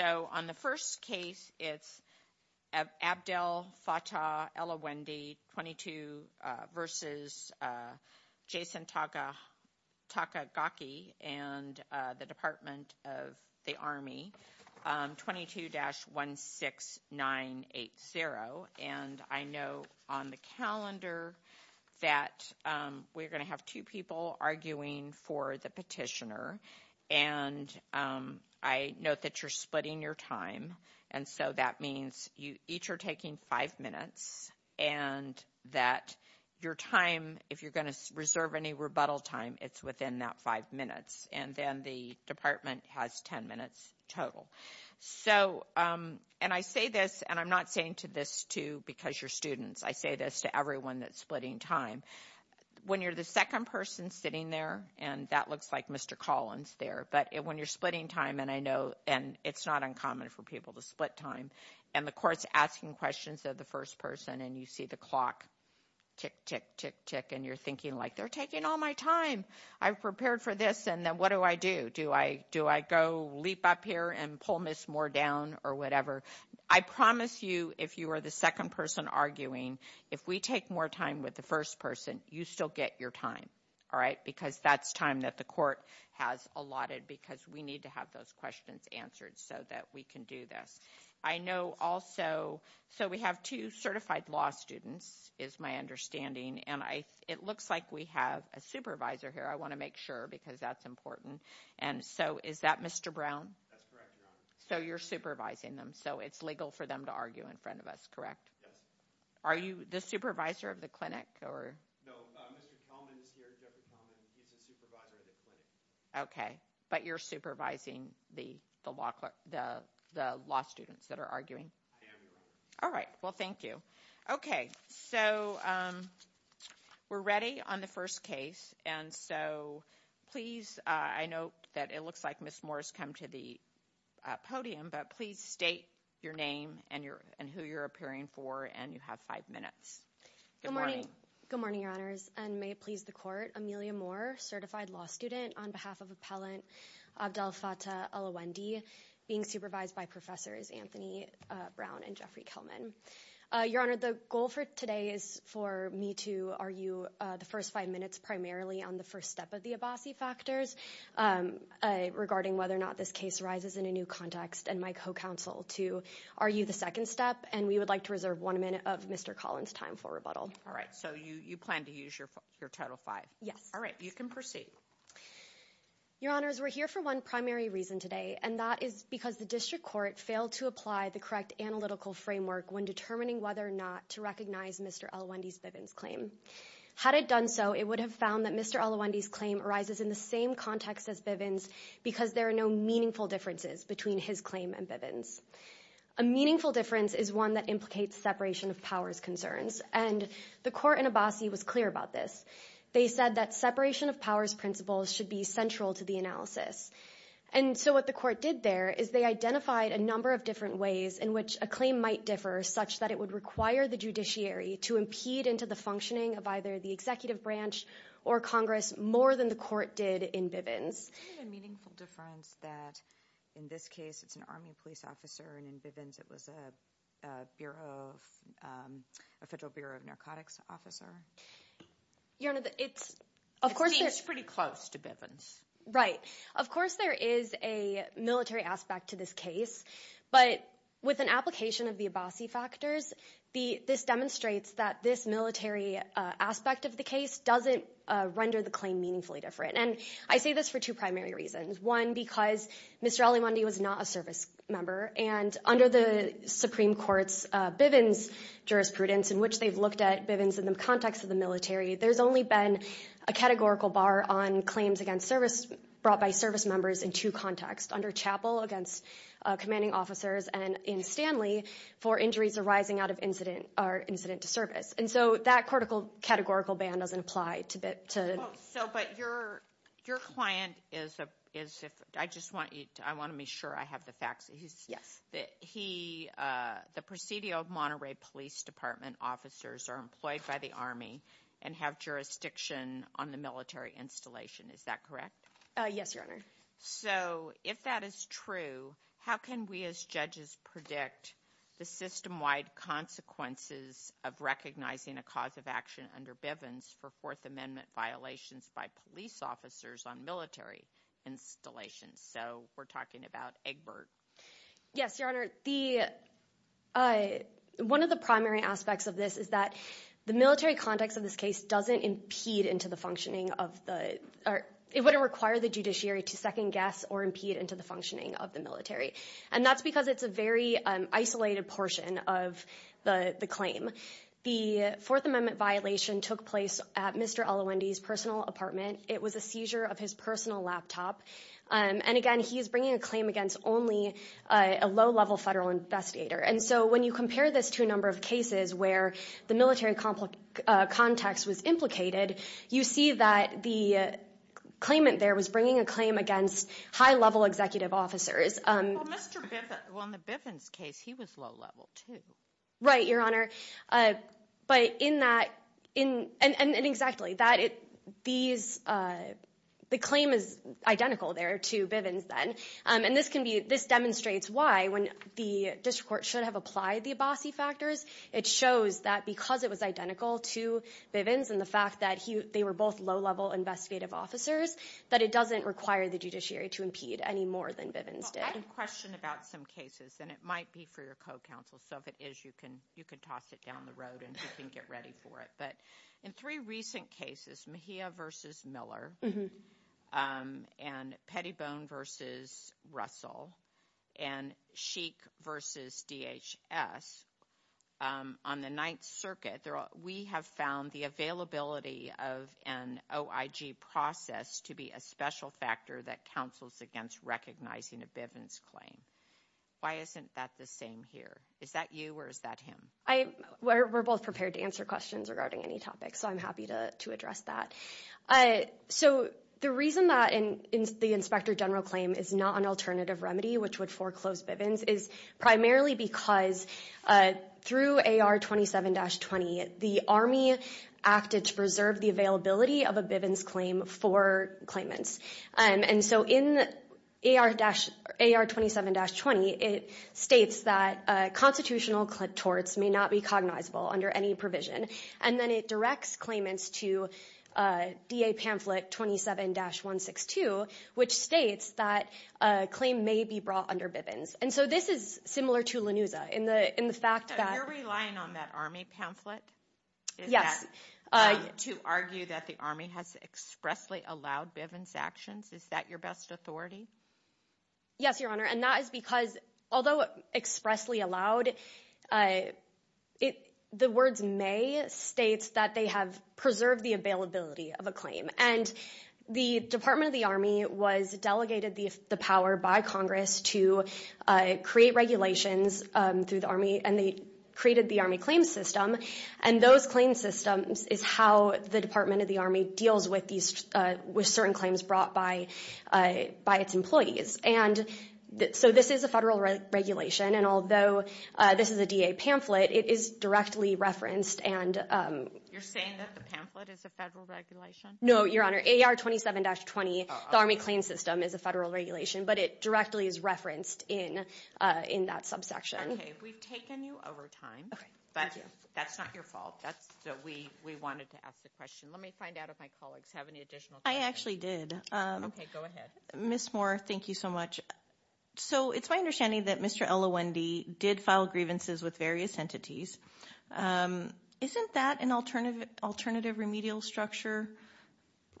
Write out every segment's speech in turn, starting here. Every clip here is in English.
So on the first case it's Abdel Fattah Ellawendy 22 versus Jason Takagaki and the Department of the Army 22-16980. And I know on the calendar that we're going to have two people arguing for the petitioner. And I note that you're splitting your time. And so that means you each are taking five minutes and that your time, if you're going to reserve any rebuttal time, it's within that five minutes. And then the department has ten minutes total. So, and I say this and I'm not saying to this to because you're students, I say this to everyone that's splitting time. When you're the second person sitting there, and that looks like Mr. Collins there, but when you're splitting time, and I know, and it's not uncommon for people to split time, and the court's asking questions of the first person and you see the clock tick, tick, tick, tick, and you're thinking like, they're taking all my time. I've prepared for this and then what do I do? Do I go leap up here and pull Ms. Moore down or whatever? I promise you, if you are the second person arguing, if we take more time with the first person, you still get your time. All right? Because that's time that the court has allotted because we need to have those questions answered so that we can do this. I know also, so we have two certified law students, is my understanding, and it looks like we have a supervisor here. I want to make sure because that's important. And so is that Mr. Brown? That's correct, Your Honor. So you're supervising them, so it's legal for them to argue in front of us, correct? Yes. Are you the supervisor of the clinic or? No, Mr. Kelman is here, Jeffrey Kelman, he's the supervisor of the clinic. Okay, but you're supervising the law students that are arguing? I am, Your Honor. All right, well thank you. Okay, so we're ready on the first case, and so please, I note that it looks like Ms. Moore has come to the podium, but please state your name and who you're appearing for, and you have five minutes. Good morning. Good morning, Your Honors, and may it please the court, Amelia Moore, certified law student on behalf of Appellant Abdel Fattah Elwendy, being supervised by Professors Anthony Brown and Jeffrey Kelman. Your Honor, the goal for today is for me to argue the first five minutes primarily on the first step of the Abassi factors regarding whether or not this case rises in a new context, and my co-counsel to argue the second step, and we would like to reserve one minute of Mr. Collins' time for rebuttal. All right, so you plan to use your total five? Yes. All right, you can proceed. Your Honors, we're here for one primary reason today, and that is because the district court failed to apply the correct analytical framework when determining whether or not to recognize Mr. Elwendy's Bivens claim. Had it done so, it would have found that Mr. Elwendy's claim arises in the same context as Bivens because there are no meaningful differences between his claim and Bivens. A meaningful difference is one that implicates separation of powers concerns, and the court in Abassi was clear about this. They said that separation of powers principles should be central to the analysis, and so what the court did there is they identified a number of different ways in which a claim might differ such that it would require the judiciary to impede into the functioning of either the executive branch or Congress more than the court did in Bivens. Isn't it a meaningful difference that in this case it's an Army police officer, and in Bivens it was a Bureau of, a Federal Bureau of Narcotics officer? Your Honor, it's, of course there's- It seems pretty close to Bivens. Right. Of course there is a military aspect to this case, but with an application of the Abassi factors, this demonstrates that this military aspect of the case doesn't render the claim meaningfully different. And I say this for two primary reasons. One, because Mr. Elwendy was not a service member, and under the Supreme Court's Bivens jurisprudence, in which they've looked at Bivens in the context of the military, there's only been a categorical bar on claims against service, brought by service members in two contexts, under Chappell against commanding officers, and in Stanley for injuries arising out of incident, or incident to service. And so that cortical categorical ban doesn't apply to Bivens. So, but your, your client is, I just want you to, I want to be sure I have the facts. He's- He, the Presidio of Monterey Police Department officers are employed by the Army and have jurisdiction on the military installation. Is that correct? Yes, Your Honor. So if that is true, how can we as judges predict the system-wide consequences of recognizing a cause of action under Bivens for Fourth Amendment violations by police officers on military installations? So we're talking about Egbert. Yes, Your Honor. The, one of the primary aspects of this is that the military context of this case doesn't impede into the functioning of the, or it wouldn't require the judiciary to second-guess or impede into the functioning of the military. And that's because it's a very isolated portion of the claim. The Fourth Amendment violation took place at Mr. Allewendy's personal apartment. It was a seizure of his personal laptop. And again, he's bringing a claim against only a low-level federal investigator. And so when you compare this to a number of cases where the military context was implicated, you see that the claimant there was bringing a claim against high-level executive officers. Well, Mr. Bivens, well in the Bivens case, he was low-level too. Right, Your Honor. But in that, and exactly, that it, these, the claim is identical there to Bivens then. And this can be, this demonstrates why when the district court should have applied the Abbasi factors, it shows that because it was identical to Bivens and the fact that he, they were both low-level investigative officers, that it doesn't require the judiciary to impede any more than Bivens did. Well, I have a question about some cases, and it might be for your co-counsel, so if you can, you can toss it down the road and you can get ready for it, but in three recent cases, Mejia versus Miller, and Pettibone versus Russell, and Sheik versus DHS, on the Ninth Circuit, we have found the availability of an OIG process to be a special factor that counsels against recognizing a Bivens claim. Why isn't that the same here? Is that you, or is that him? I, we're both prepared to answer questions regarding any topic, so I'm happy to address that. So the reason that the Inspector General claim is not an alternative remedy, which would foreclose Bivens, is primarily because through AR 27-20, the Army acted to preserve the availability of a Bivens claim for claimants. And so in AR 27-20, it states that constitutional torts may not be cognizable under any provision, and then it directs claimants to DA pamphlet 27-162, which states that a claim may be brought under Bivens. And so this is similar to LaNuza, in the fact that- So you're relying on that Army pamphlet? Yes. To argue that the Army has expressly allowed Bivens actions? Is that your best authority? Yes, Your Honor, and that is because, although expressly allowed, the words may states that they have preserved the availability of a claim. And the Department of the Army was delegated the power by Congress to create regulations through the Army, and they created the Army Claim System, and those claim systems is how the Department of the Army deals with certain claims brought by its employees. And so this is a federal regulation, and although this is a DA pamphlet, it is directly referenced and- You're saying that the pamphlet is a federal regulation? No, Your Honor, AR 27-20, the Army Claim System, is a federal regulation, but it directly is referenced in that subsection. Okay, we've taken you over time. Okay, thank you. But that's not your fault. That's what we wanted to ask the question. Let me find out if my colleagues have any additional questions. I actually did. Okay, go ahead. Ms. Moore, thank you so much. So it's my understanding that Mr. Ella Wendy did file grievances with various entities. Isn't that an alternative remedial structure,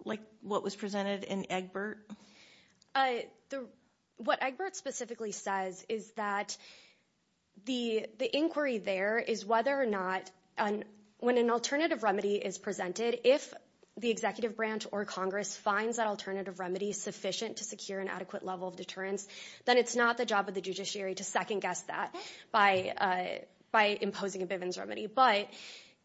like what was presented in Egbert? What Egbert specifically says is that the inquiry there is whether or not, when an alternative remedy is presented, if the executive branch or Congress finds that alternative remedy sufficient to secure an adequate level of deterrence, then it's not the job of the judiciary to second-guess that by imposing a Bivens remedy. But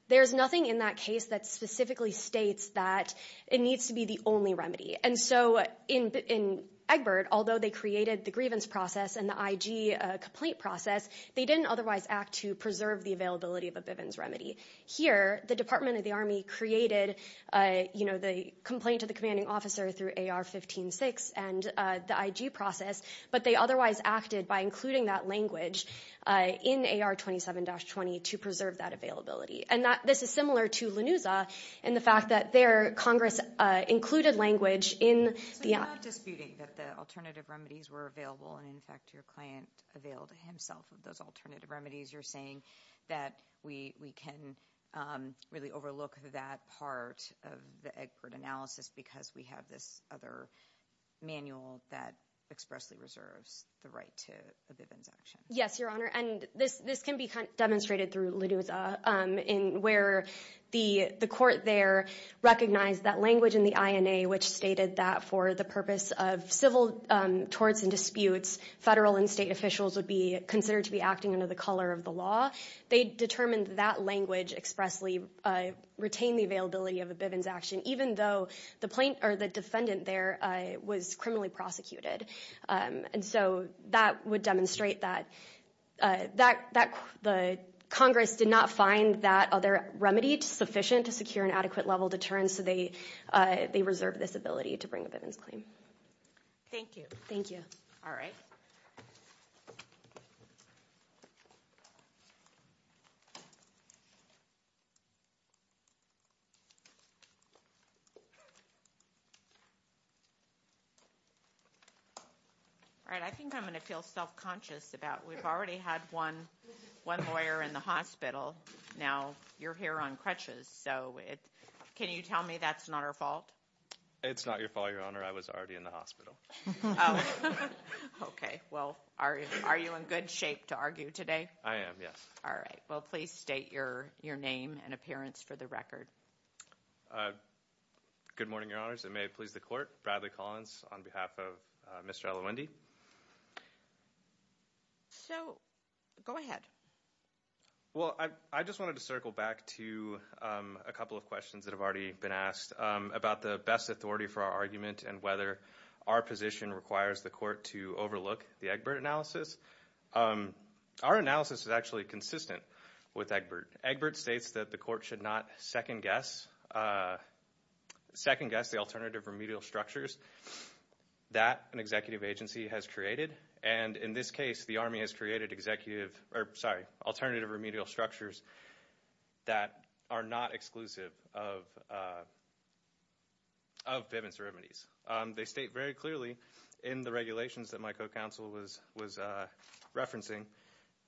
there's nothing in that case that specifically states that it needs to be the only remedy. And so in Egbert, although they created the grievance process and the IG complaint process, they didn't otherwise act to preserve the availability of a Bivens remedy. Here, the Department of the Army created the complaint to the commanding officer through AR-15-6 and the IG process, but they otherwise acted by including that language in AR-27-20 to preserve that availability. And this is similar to LaNuza in the fact that there, Congress included language in the— So you're not disputing that the alternative remedies were available and, in fact, your client availed himself of those alternative remedies. You're saying that we can really overlook that part of the Egbert analysis because we have this other manual that expressly reserves the right to a Bivens action. Yes, Your Honor. And this can be demonstrated through LaNuza in where the court there recognized that language in the INA, which stated that for the purpose of civil torts and disputes, federal and state officials would be considered to be acting under the color of the law. They determined that language expressly retained the availability of a Bivens action, even though the defendant there was criminally prosecuted. And so that would demonstrate that Congress did not find that other remedy sufficient to secure an adequate level of deterrence, so they reserved this ability to bring a Bivens claim. Thank you. Thank you. All right. All right. I think I'm going to feel self-conscious about we've already had one lawyer in the hospital. Now you're here on crutches, so can you tell me that's not our fault? It's not your fault, Your Honor. I was already in the hospital. Oh. Okay. Well, are you in good shape to argue today? I am, yes. All right. Well, please state your name and appearance for the record. Good morning, Your Honors. It may please the Court. Bradley Collins on behalf of Mr. Elowendy. So go ahead. Well, I just wanted to circle back to a couple of questions that have already been asked about the best authority for our argument and whether our position requires the Court to overlook the Egbert analysis. Our analysis is actually consistent with Egbert. Egbert states that the Court should not second-guess the alternative remedial structures that an executive agency has created. And in this case, the Army has created alternative remedial structures that are not exclusive of pittance remedies. They state very clearly in the regulations that my co-counsel was referencing,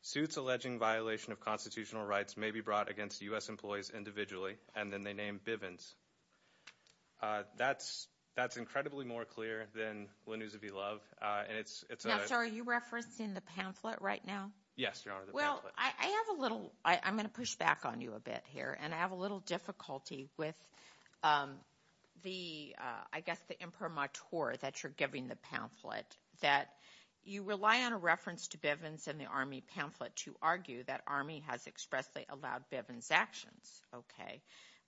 suits alleging violation of constitutional rights may be brought against U.S. employees individually, and then they name Bivens. That's incredibly more clear than Linusa v. Love, and it's a – Now, sir, are you referencing the pamphlet right now? Yes, Your Honor, the pamphlet. Well, I have a little – I'm going to push back on you a bit here, and I have a little difficulty with the – I guess the imprimatur that you're giving the pamphlet, that you rely on a reference to Bivens in the Army pamphlet to argue that Army has expressly allowed Bivens' actions, okay.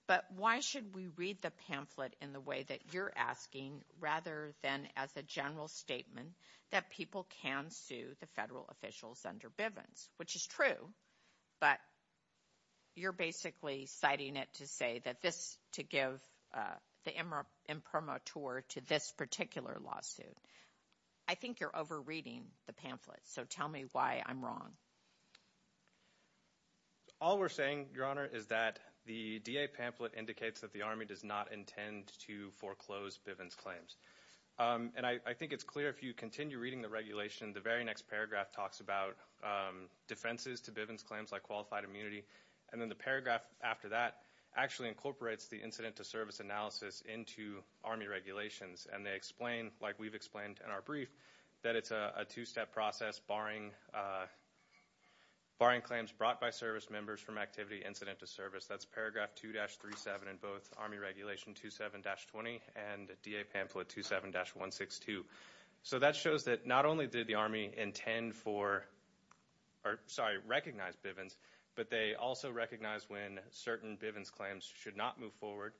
But why should we read the pamphlet in the way that you're asking, rather than as a general statement that people can sue the federal officials under Bivens, which is true, but you're basically citing it to say that this – to give the imprimatur to this particular lawsuit. I think you're over-reading the pamphlet, so tell me why I'm wrong. All we're saying, Your Honor, is that the DA pamphlet indicates that the Army does not intend to foreclose Bivens' claims. And I think it's clear if you continue reading the regulation, the very next paragraph talks about defenses to Bivens' claims, like qualified immunity, and then the paragraph after that actually incorporates the incident-to-service analysis into Army regulations, and they explain like we've explained in our brief, that it's a two-step process barring claims brought by service members from activity incident-to-service. That's paragraph 2-37 in both Army Regulation 27-20 and DA pamphlet 27-162. So that shows that not only did the Army intend for – or, sorry, recognize Bivens, but they also recognize when certain Bivens' claims should not move forward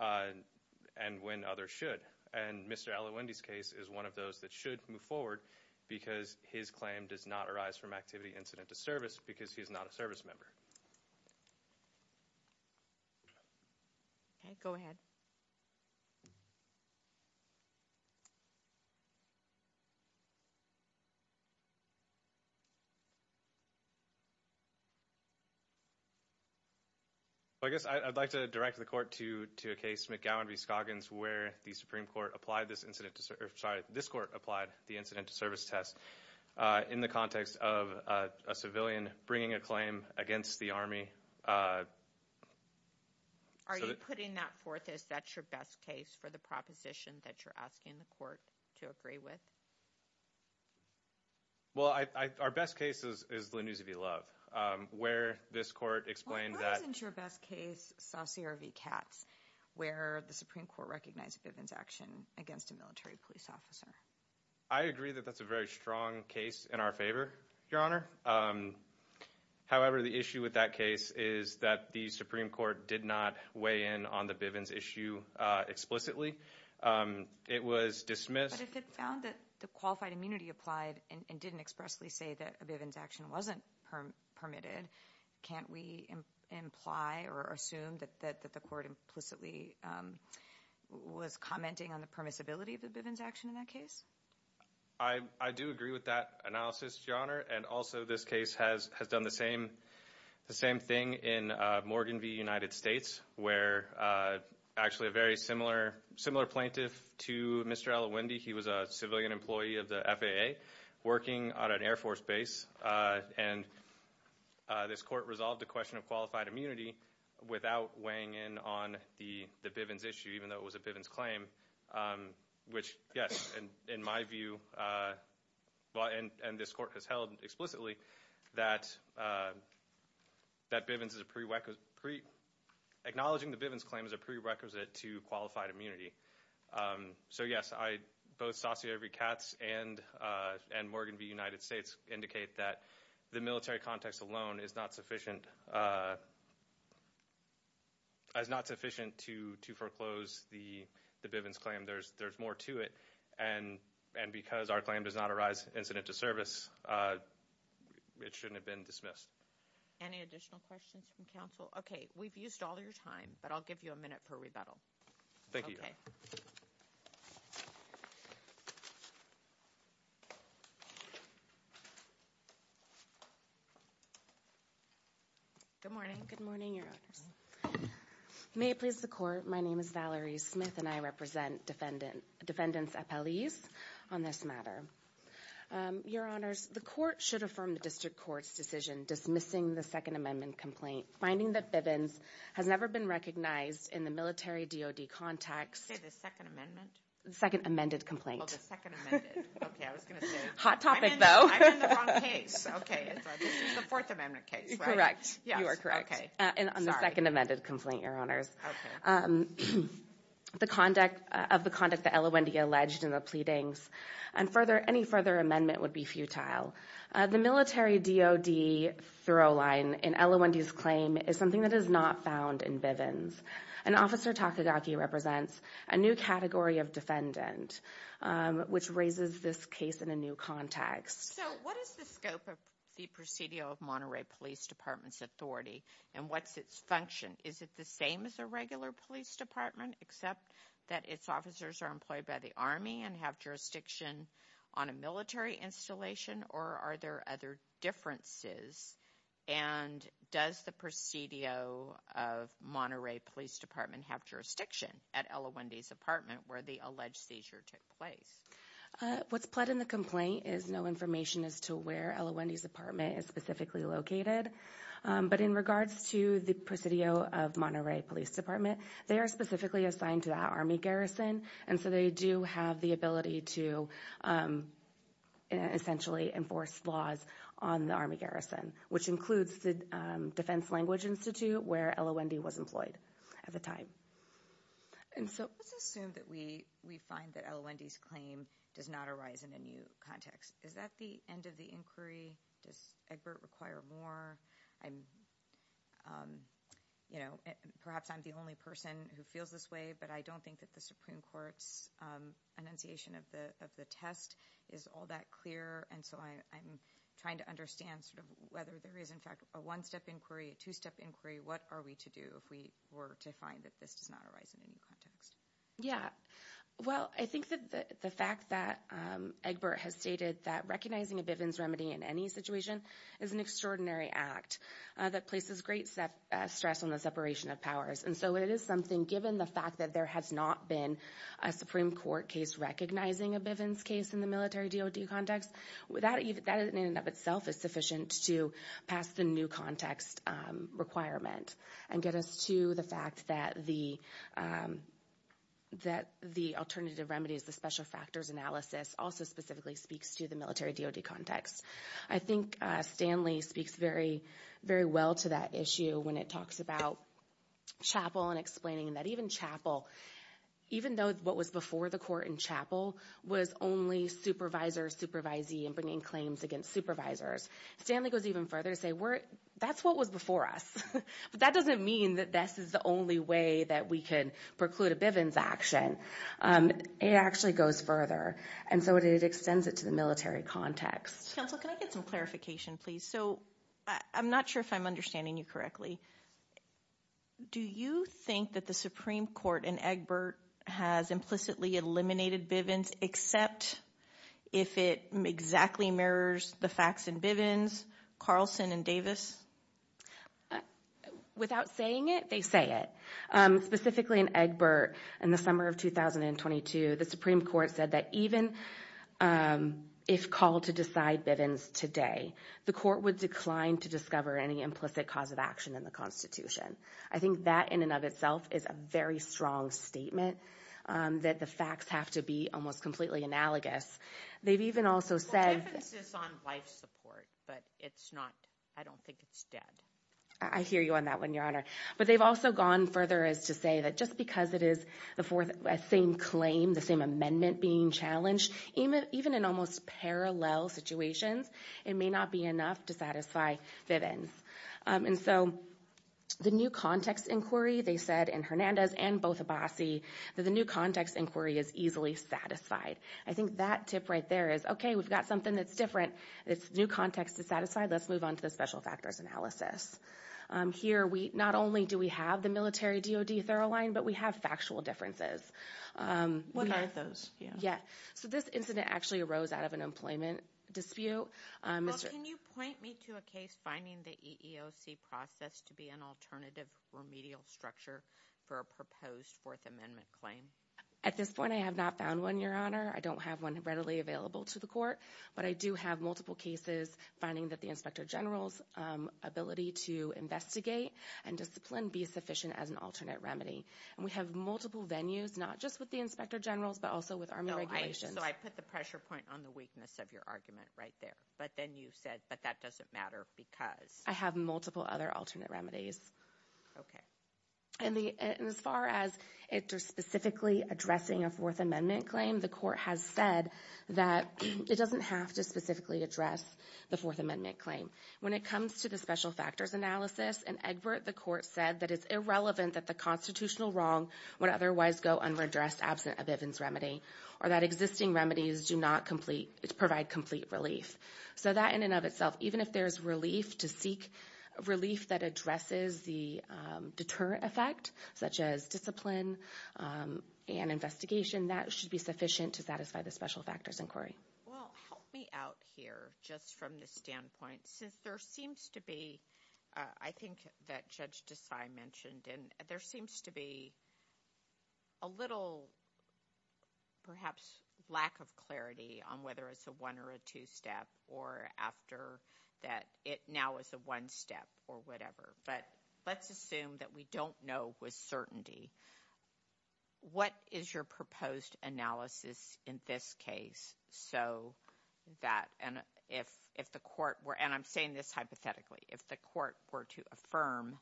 and when others should. And Mr. Allewendy's case is one of those that should move forward because his claim does not arise from activity incident-to-service because he's not a service member. Okay, go ahead. I guess I'd like to direct the court to a case, McGowan v. Scoggins, where the Supreme Court applied this incident-to-service – sorry, this court applied the incident-to-service test in the context of a civilian bringing a claim against the Army. Are you putting that forth as that's your best case for the proposition that you're asking the court to agree with? Well, our best case is Linus v. Love, where this court explained that – Well, why isn't your best case Saucier v. Katz, where the Supreme Court recognized Bivens' action against a military police officer? I agree that that's a very strong case in our favor, Your Honor. However, the issue with that case is that the Supreme Court did not weigh in on the Bivens' issue explicitly. It was dismissed. But if it found that the qualified immunity applied and didn't expressly say that Bivens' action wasn't permitted, can't we imply or assume that the court implicitly was commenting on the permissibility of the Bivens' action in that case? I do agree with that analysis, Your Honor. And also, this case has done the same thing in Morgan v. United States, where actually a very similar plaintiff to Mr. Allewendy, he was a civilian employee of the FAA working on an Air Force base, and this court resolved the question of qualified immunity without weighing in on the Bivens' issue, even though it was a Bivens' claim, which, yes, and in my view, and this court has held explicitly, that acknowledging the Bivens' claim is a prerequisite to qualified immunity. So yes, both Saussure v. Katz and Morgan v. United States indicate that the military context alone is not sufficient to foreclose the Bivens' claim. There's more to it. And because our claim does not arise incident to service, it shouldn't have been dismissed. Any additional questions from counsel? Okay, we've used all of your time, but I'll give you a minute for rebuttal. Thank you, Your Honor. Good morning. Good morning, Your Honors. May it please the Court, my name is Valerie Smith, and I represent Defendants' Appellees on this matter. Your Honors, the Court should affirm the District Court's decision dismissing the Second Amendment complaint, finding that Bivens has never been recognized in the military DOD context. Did you say the Second Amendment? Second Amended Complaint. Oh, the Second Amended. Okay, I was going to say it. Hot topic, though. I'm in the wrong case. Okay, it's the Fourth Amendment case, right? Correct. Yes. You are correct. Okay. Sorry. On the Second Amended Complaint, Your Honors. Okay. Of the conduct that Ella Wendy alleged in the pleadings, any further amendment would be futile. The military DOD throw line in Ella Wendy's claim is something that is not found in Bivens. And Officer Takagaki represents a new category of defendant, which raises this case in a new context. So, what is the scope of the Presidio of Monterey Police Department's authority, and what's its function? Is it the same as a regular police department, except that its officers are employed by the Army and have jurisdiction on a military installation, or are there other differences? And does the Presidio of Monterey Police Department have jurisdiction at Ella Wendy's apartment where the alleged seizure took place? What's pled in the complaint is no information as to where Ella Wendy's apartment is specifically located, but in regards to the Presidio of Monterey Police Department, they are specifically assigned to that Army garrison, and so they do have the ability to essentially enforce laws on the Army garrison, which includes the Defense Language Institute, where Ella Wendy was employed at the time. And so, let's assume that we find that Ella Wendy's claim does not arise in a new context. Is that the end of the inquiry? Does Egbert require more? I'm, you know, perhaps I'm the only person who feels this way, but I don't think that the Supreme Court's enunciation of the test is all that clear, and so I'm trying to understand sort of whether there is, in fact, a one-step inquiry, a two-step inquiry. What are we to do if we were to find that this does not arise in a new context? Yeah. Well, I think that the fact that Egbert has stated that recognizing a Bivens remedy in any situation is an extraordinary act that places great stress on the separation of powers, and so it is something, given the fact that there has not been a Supreme Court case recognizing a Bivens case in the military DOD context, that in and of itself is sufficient to pass the new context requirement and get us to the fact that the alternative remedies, the special factors analysis, also specifically speaks to the military DOD context. I think Stanley speaks very well to that issue when it talks about Chappell and explaining that even Chappell, even though what was before the court in Chappell was only supervisor, supervisee, and bringing claims against supervisors, Stanley goes even further to say, we're – that's what was before us. But that doesn't mean that this is the only way that we can preclude a Bivens action. It actually goes further, and so it extends it to the military context. Counsel, can I get some clarification, please? So I'm not sure if I'm understanding you correctly. Do you think that the Supreme Court in Egbert has implicitly eliminated Bivens, except if it exactly mirrors the facts in Bivens, Carlson, and Davis? Without saying it, they say it. Specifically in Egbert, in the summer of 2022, the Supreme Court said that even if called to decide Bivens today, the court would decline to discover any implicit cause of action in the Constitution. I think that in and of itself is a very strong statement, that the facts have to be almost completely analogous. They've even also said – Well, the difference is on life support, but it's not – I don't think it's dead. I hear you on that one, Your Honor. But they've also gone further as to say that just because it is the same claim, the same amendment being challenged, even in almost parallel situations, it may not be enough to satisfy Bivens. And so the new context inquiry, they said in Hernandez and Bothabasi, that the new context inquiry is easily satisfied. I think that tip right there is, okay, we've got something that's different, it's new context is satisfied, let's move on to the special factors analysis. Here we – not only do we have the military DOD thorough line, but we have factual differences. What are those? Yeah. So this incident actually arose out of an employment dispute. Well, can you point me to a case finding the EEOC process to be an alternative remedial structure for a proposed Fourth Amendment claim? At this point, I have not found one, Your Honor. I don't have one readily available to the court, but I do have multiple cases finding that the inspector general's ability to investigate and discipline be sufficient as an alternate remedy. And we have multiple venues, not just with the inspector generals, but also with army regulations. No, I – so I put the pressure point on the weakness of your argument right there. But then you said, but that doesn't matter because? I have multiple other alternate remedies. Okay. And as far as specifically addressing a Fourth Amendment claim, the court has said that it doesn't have to specifically address the Fourth Amendment claim. When it comes to the special factors analysis, in Egbert, the court said that it's irrelevant that the constitutional wrong would otherwise go unredressed absent a Bivens remedy or that existing remedies do not complete – provide complete relief. So that in and of itself, even if there's relief to seek, relief that addresses the deterrent effect, such as discipline and investigation, that should be sufficient to satisfy the special factors inquiry. Well, help me out here just from the standpoint, since there seems to be – I think that Judge Desai mentioned, and there seems to be a little, perhaps, lack of clarity on whether it's a one- or a two-step or after that it now is a one-step or whatever. But let's assume that we don't know with certainty. What is your proposed analysis in this case so that – and if the court were – and I'm saying this hypothetically – if the court were to affirm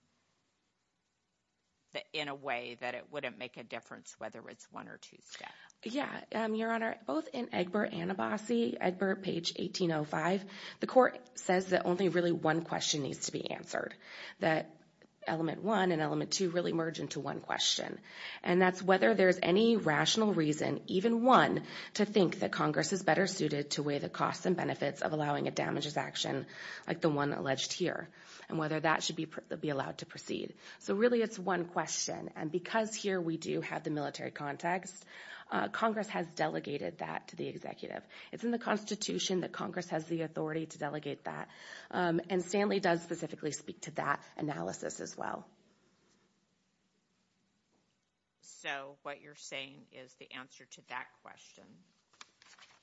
in a way that it wouldn't make a difference whether it's one- or two-step? Yeah. Your Honor, both in Egbert and Abbasi, Egbert, page 1805, the court says that only really one question needs to be answered, that element one and element two really merge into one question, and that's whether there's any rational reason, even one, to think that Congress is better suited to weigh the costs and benefits of allowing a damages action like the one alleged here and whether that should be allowed to proceed. So really it's one question, and because here we do have the military context, Congress has delegated that to the executive. It's in the Constitution that Congress has the authority to delegate that, and Stanley does specifically speak to that analysis as well. So what you're saying is the answer to that question,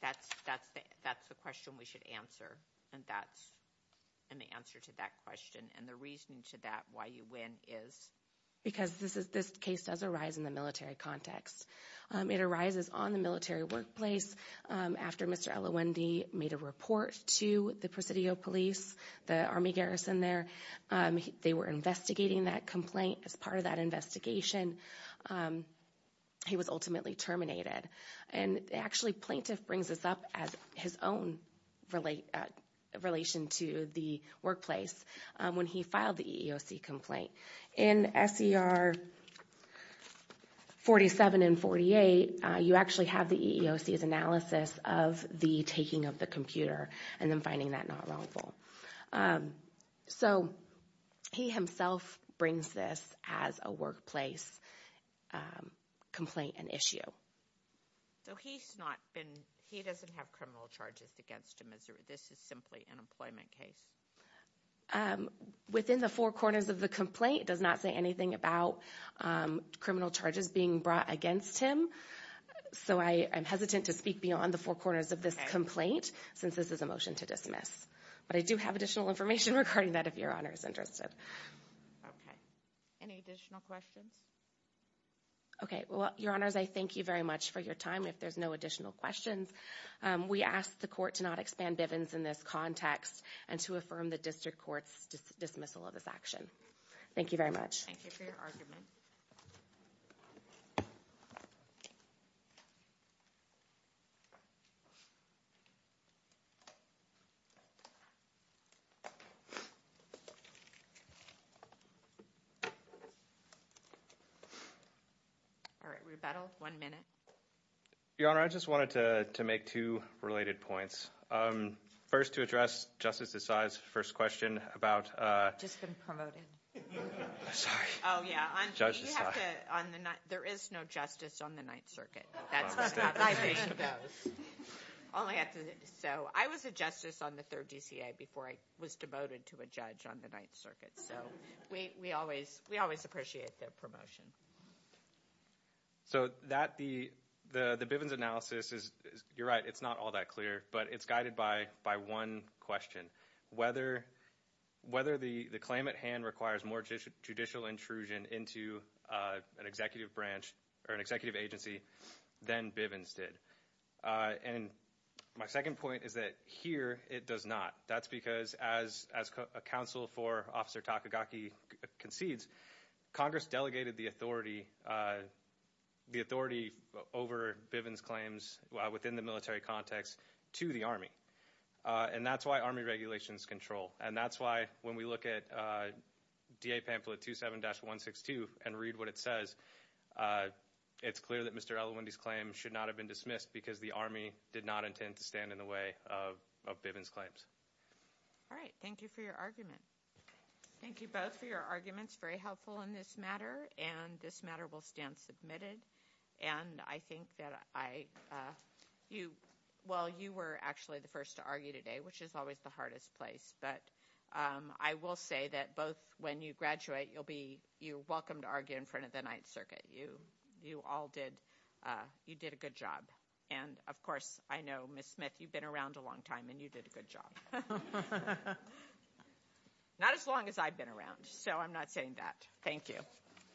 that's the question we should answer, and that's – and the answer to that question and the reasoning to that why you win is? Because this case does arise in the military context. It arises on the military workplace after Mr. Elowendy made a report to the Presidio Police, the Army garrison there. They were investigating that complaint. As part of that investigation, he was ultimately terminated. And actually, plaintiff brings this up as his own relation to the workplace when he filed the EEOC complaint. In SER 47 and 48, you actually have the EEOC's analysis of the taking of the computer and then finding that not wrongful. So he himself brings this as a workplace complaint and issue. So he's not been – he doesn't have criminal charges against him. This is simply an employment case. Within the four corners of the complaint, it does not say anything about criminal charges being brought against him. So I am hesitant to speak beyond the four corners of this complaint since this is a motion to dismiss. But I do have additional information regarding that, if Your Honor is interested. Okay. Any additional questions? Okay. Well, Your Honors, I thank you very much for your time. If there's no additional questions, we ask the court to not expand Bivens in this context and to affirm the district court's dismissal of this action. Thank you very much. Thank you for your argument. All right, rebuttal. One minute. Your Honor, I just wanted to make two related points. First, to address Justice Desai's first question about – Just been promoted. I'm sorry. Oh, yeah. Judge Desai. You have to – on the – there is no justice on the Ninth Circuit. That's what my position goes. All I have to – so I was a justice on the Third DCA before I was demoted to a judge on the Ninth Circuit. So we always – we always appreciate the promotion. So that – the Bivens analysis is – you're right, it's not all that clear. But it's guided by one question. Whether the claim at hand requires more judicial intrusion into an executive branch or an executive agency than Bivens did. And my second point is that here it does not. That's because as a counsel for Officer Takagaki concedes, Congress delegated the authority over Bivens claims within the military context to the Army. And that's why Army regulations control. And that's why when we look at D.A. pamphlet 27-162 and read what it says, it's clear that Mr. Elawendy's claim should not have been dismissed because the Army did not intend to stand in the way of Bivens' claims. All right. Thank you for your argument. Thank you both for your arguments. Very helpful in this matter. And this matter will stand submitted. And I think that I – well, you were actually the first to argue today, which is always the hardest place. But I will say that both when you graduate you'll be – you're welcome to argue in front of the Ninth Circuit. You all did – you did a good job. And, of course, I know, Ms. Smith, you've been around a long time, and you did a good job. Not as long as I've been around, so I'm not saying that. Thank you.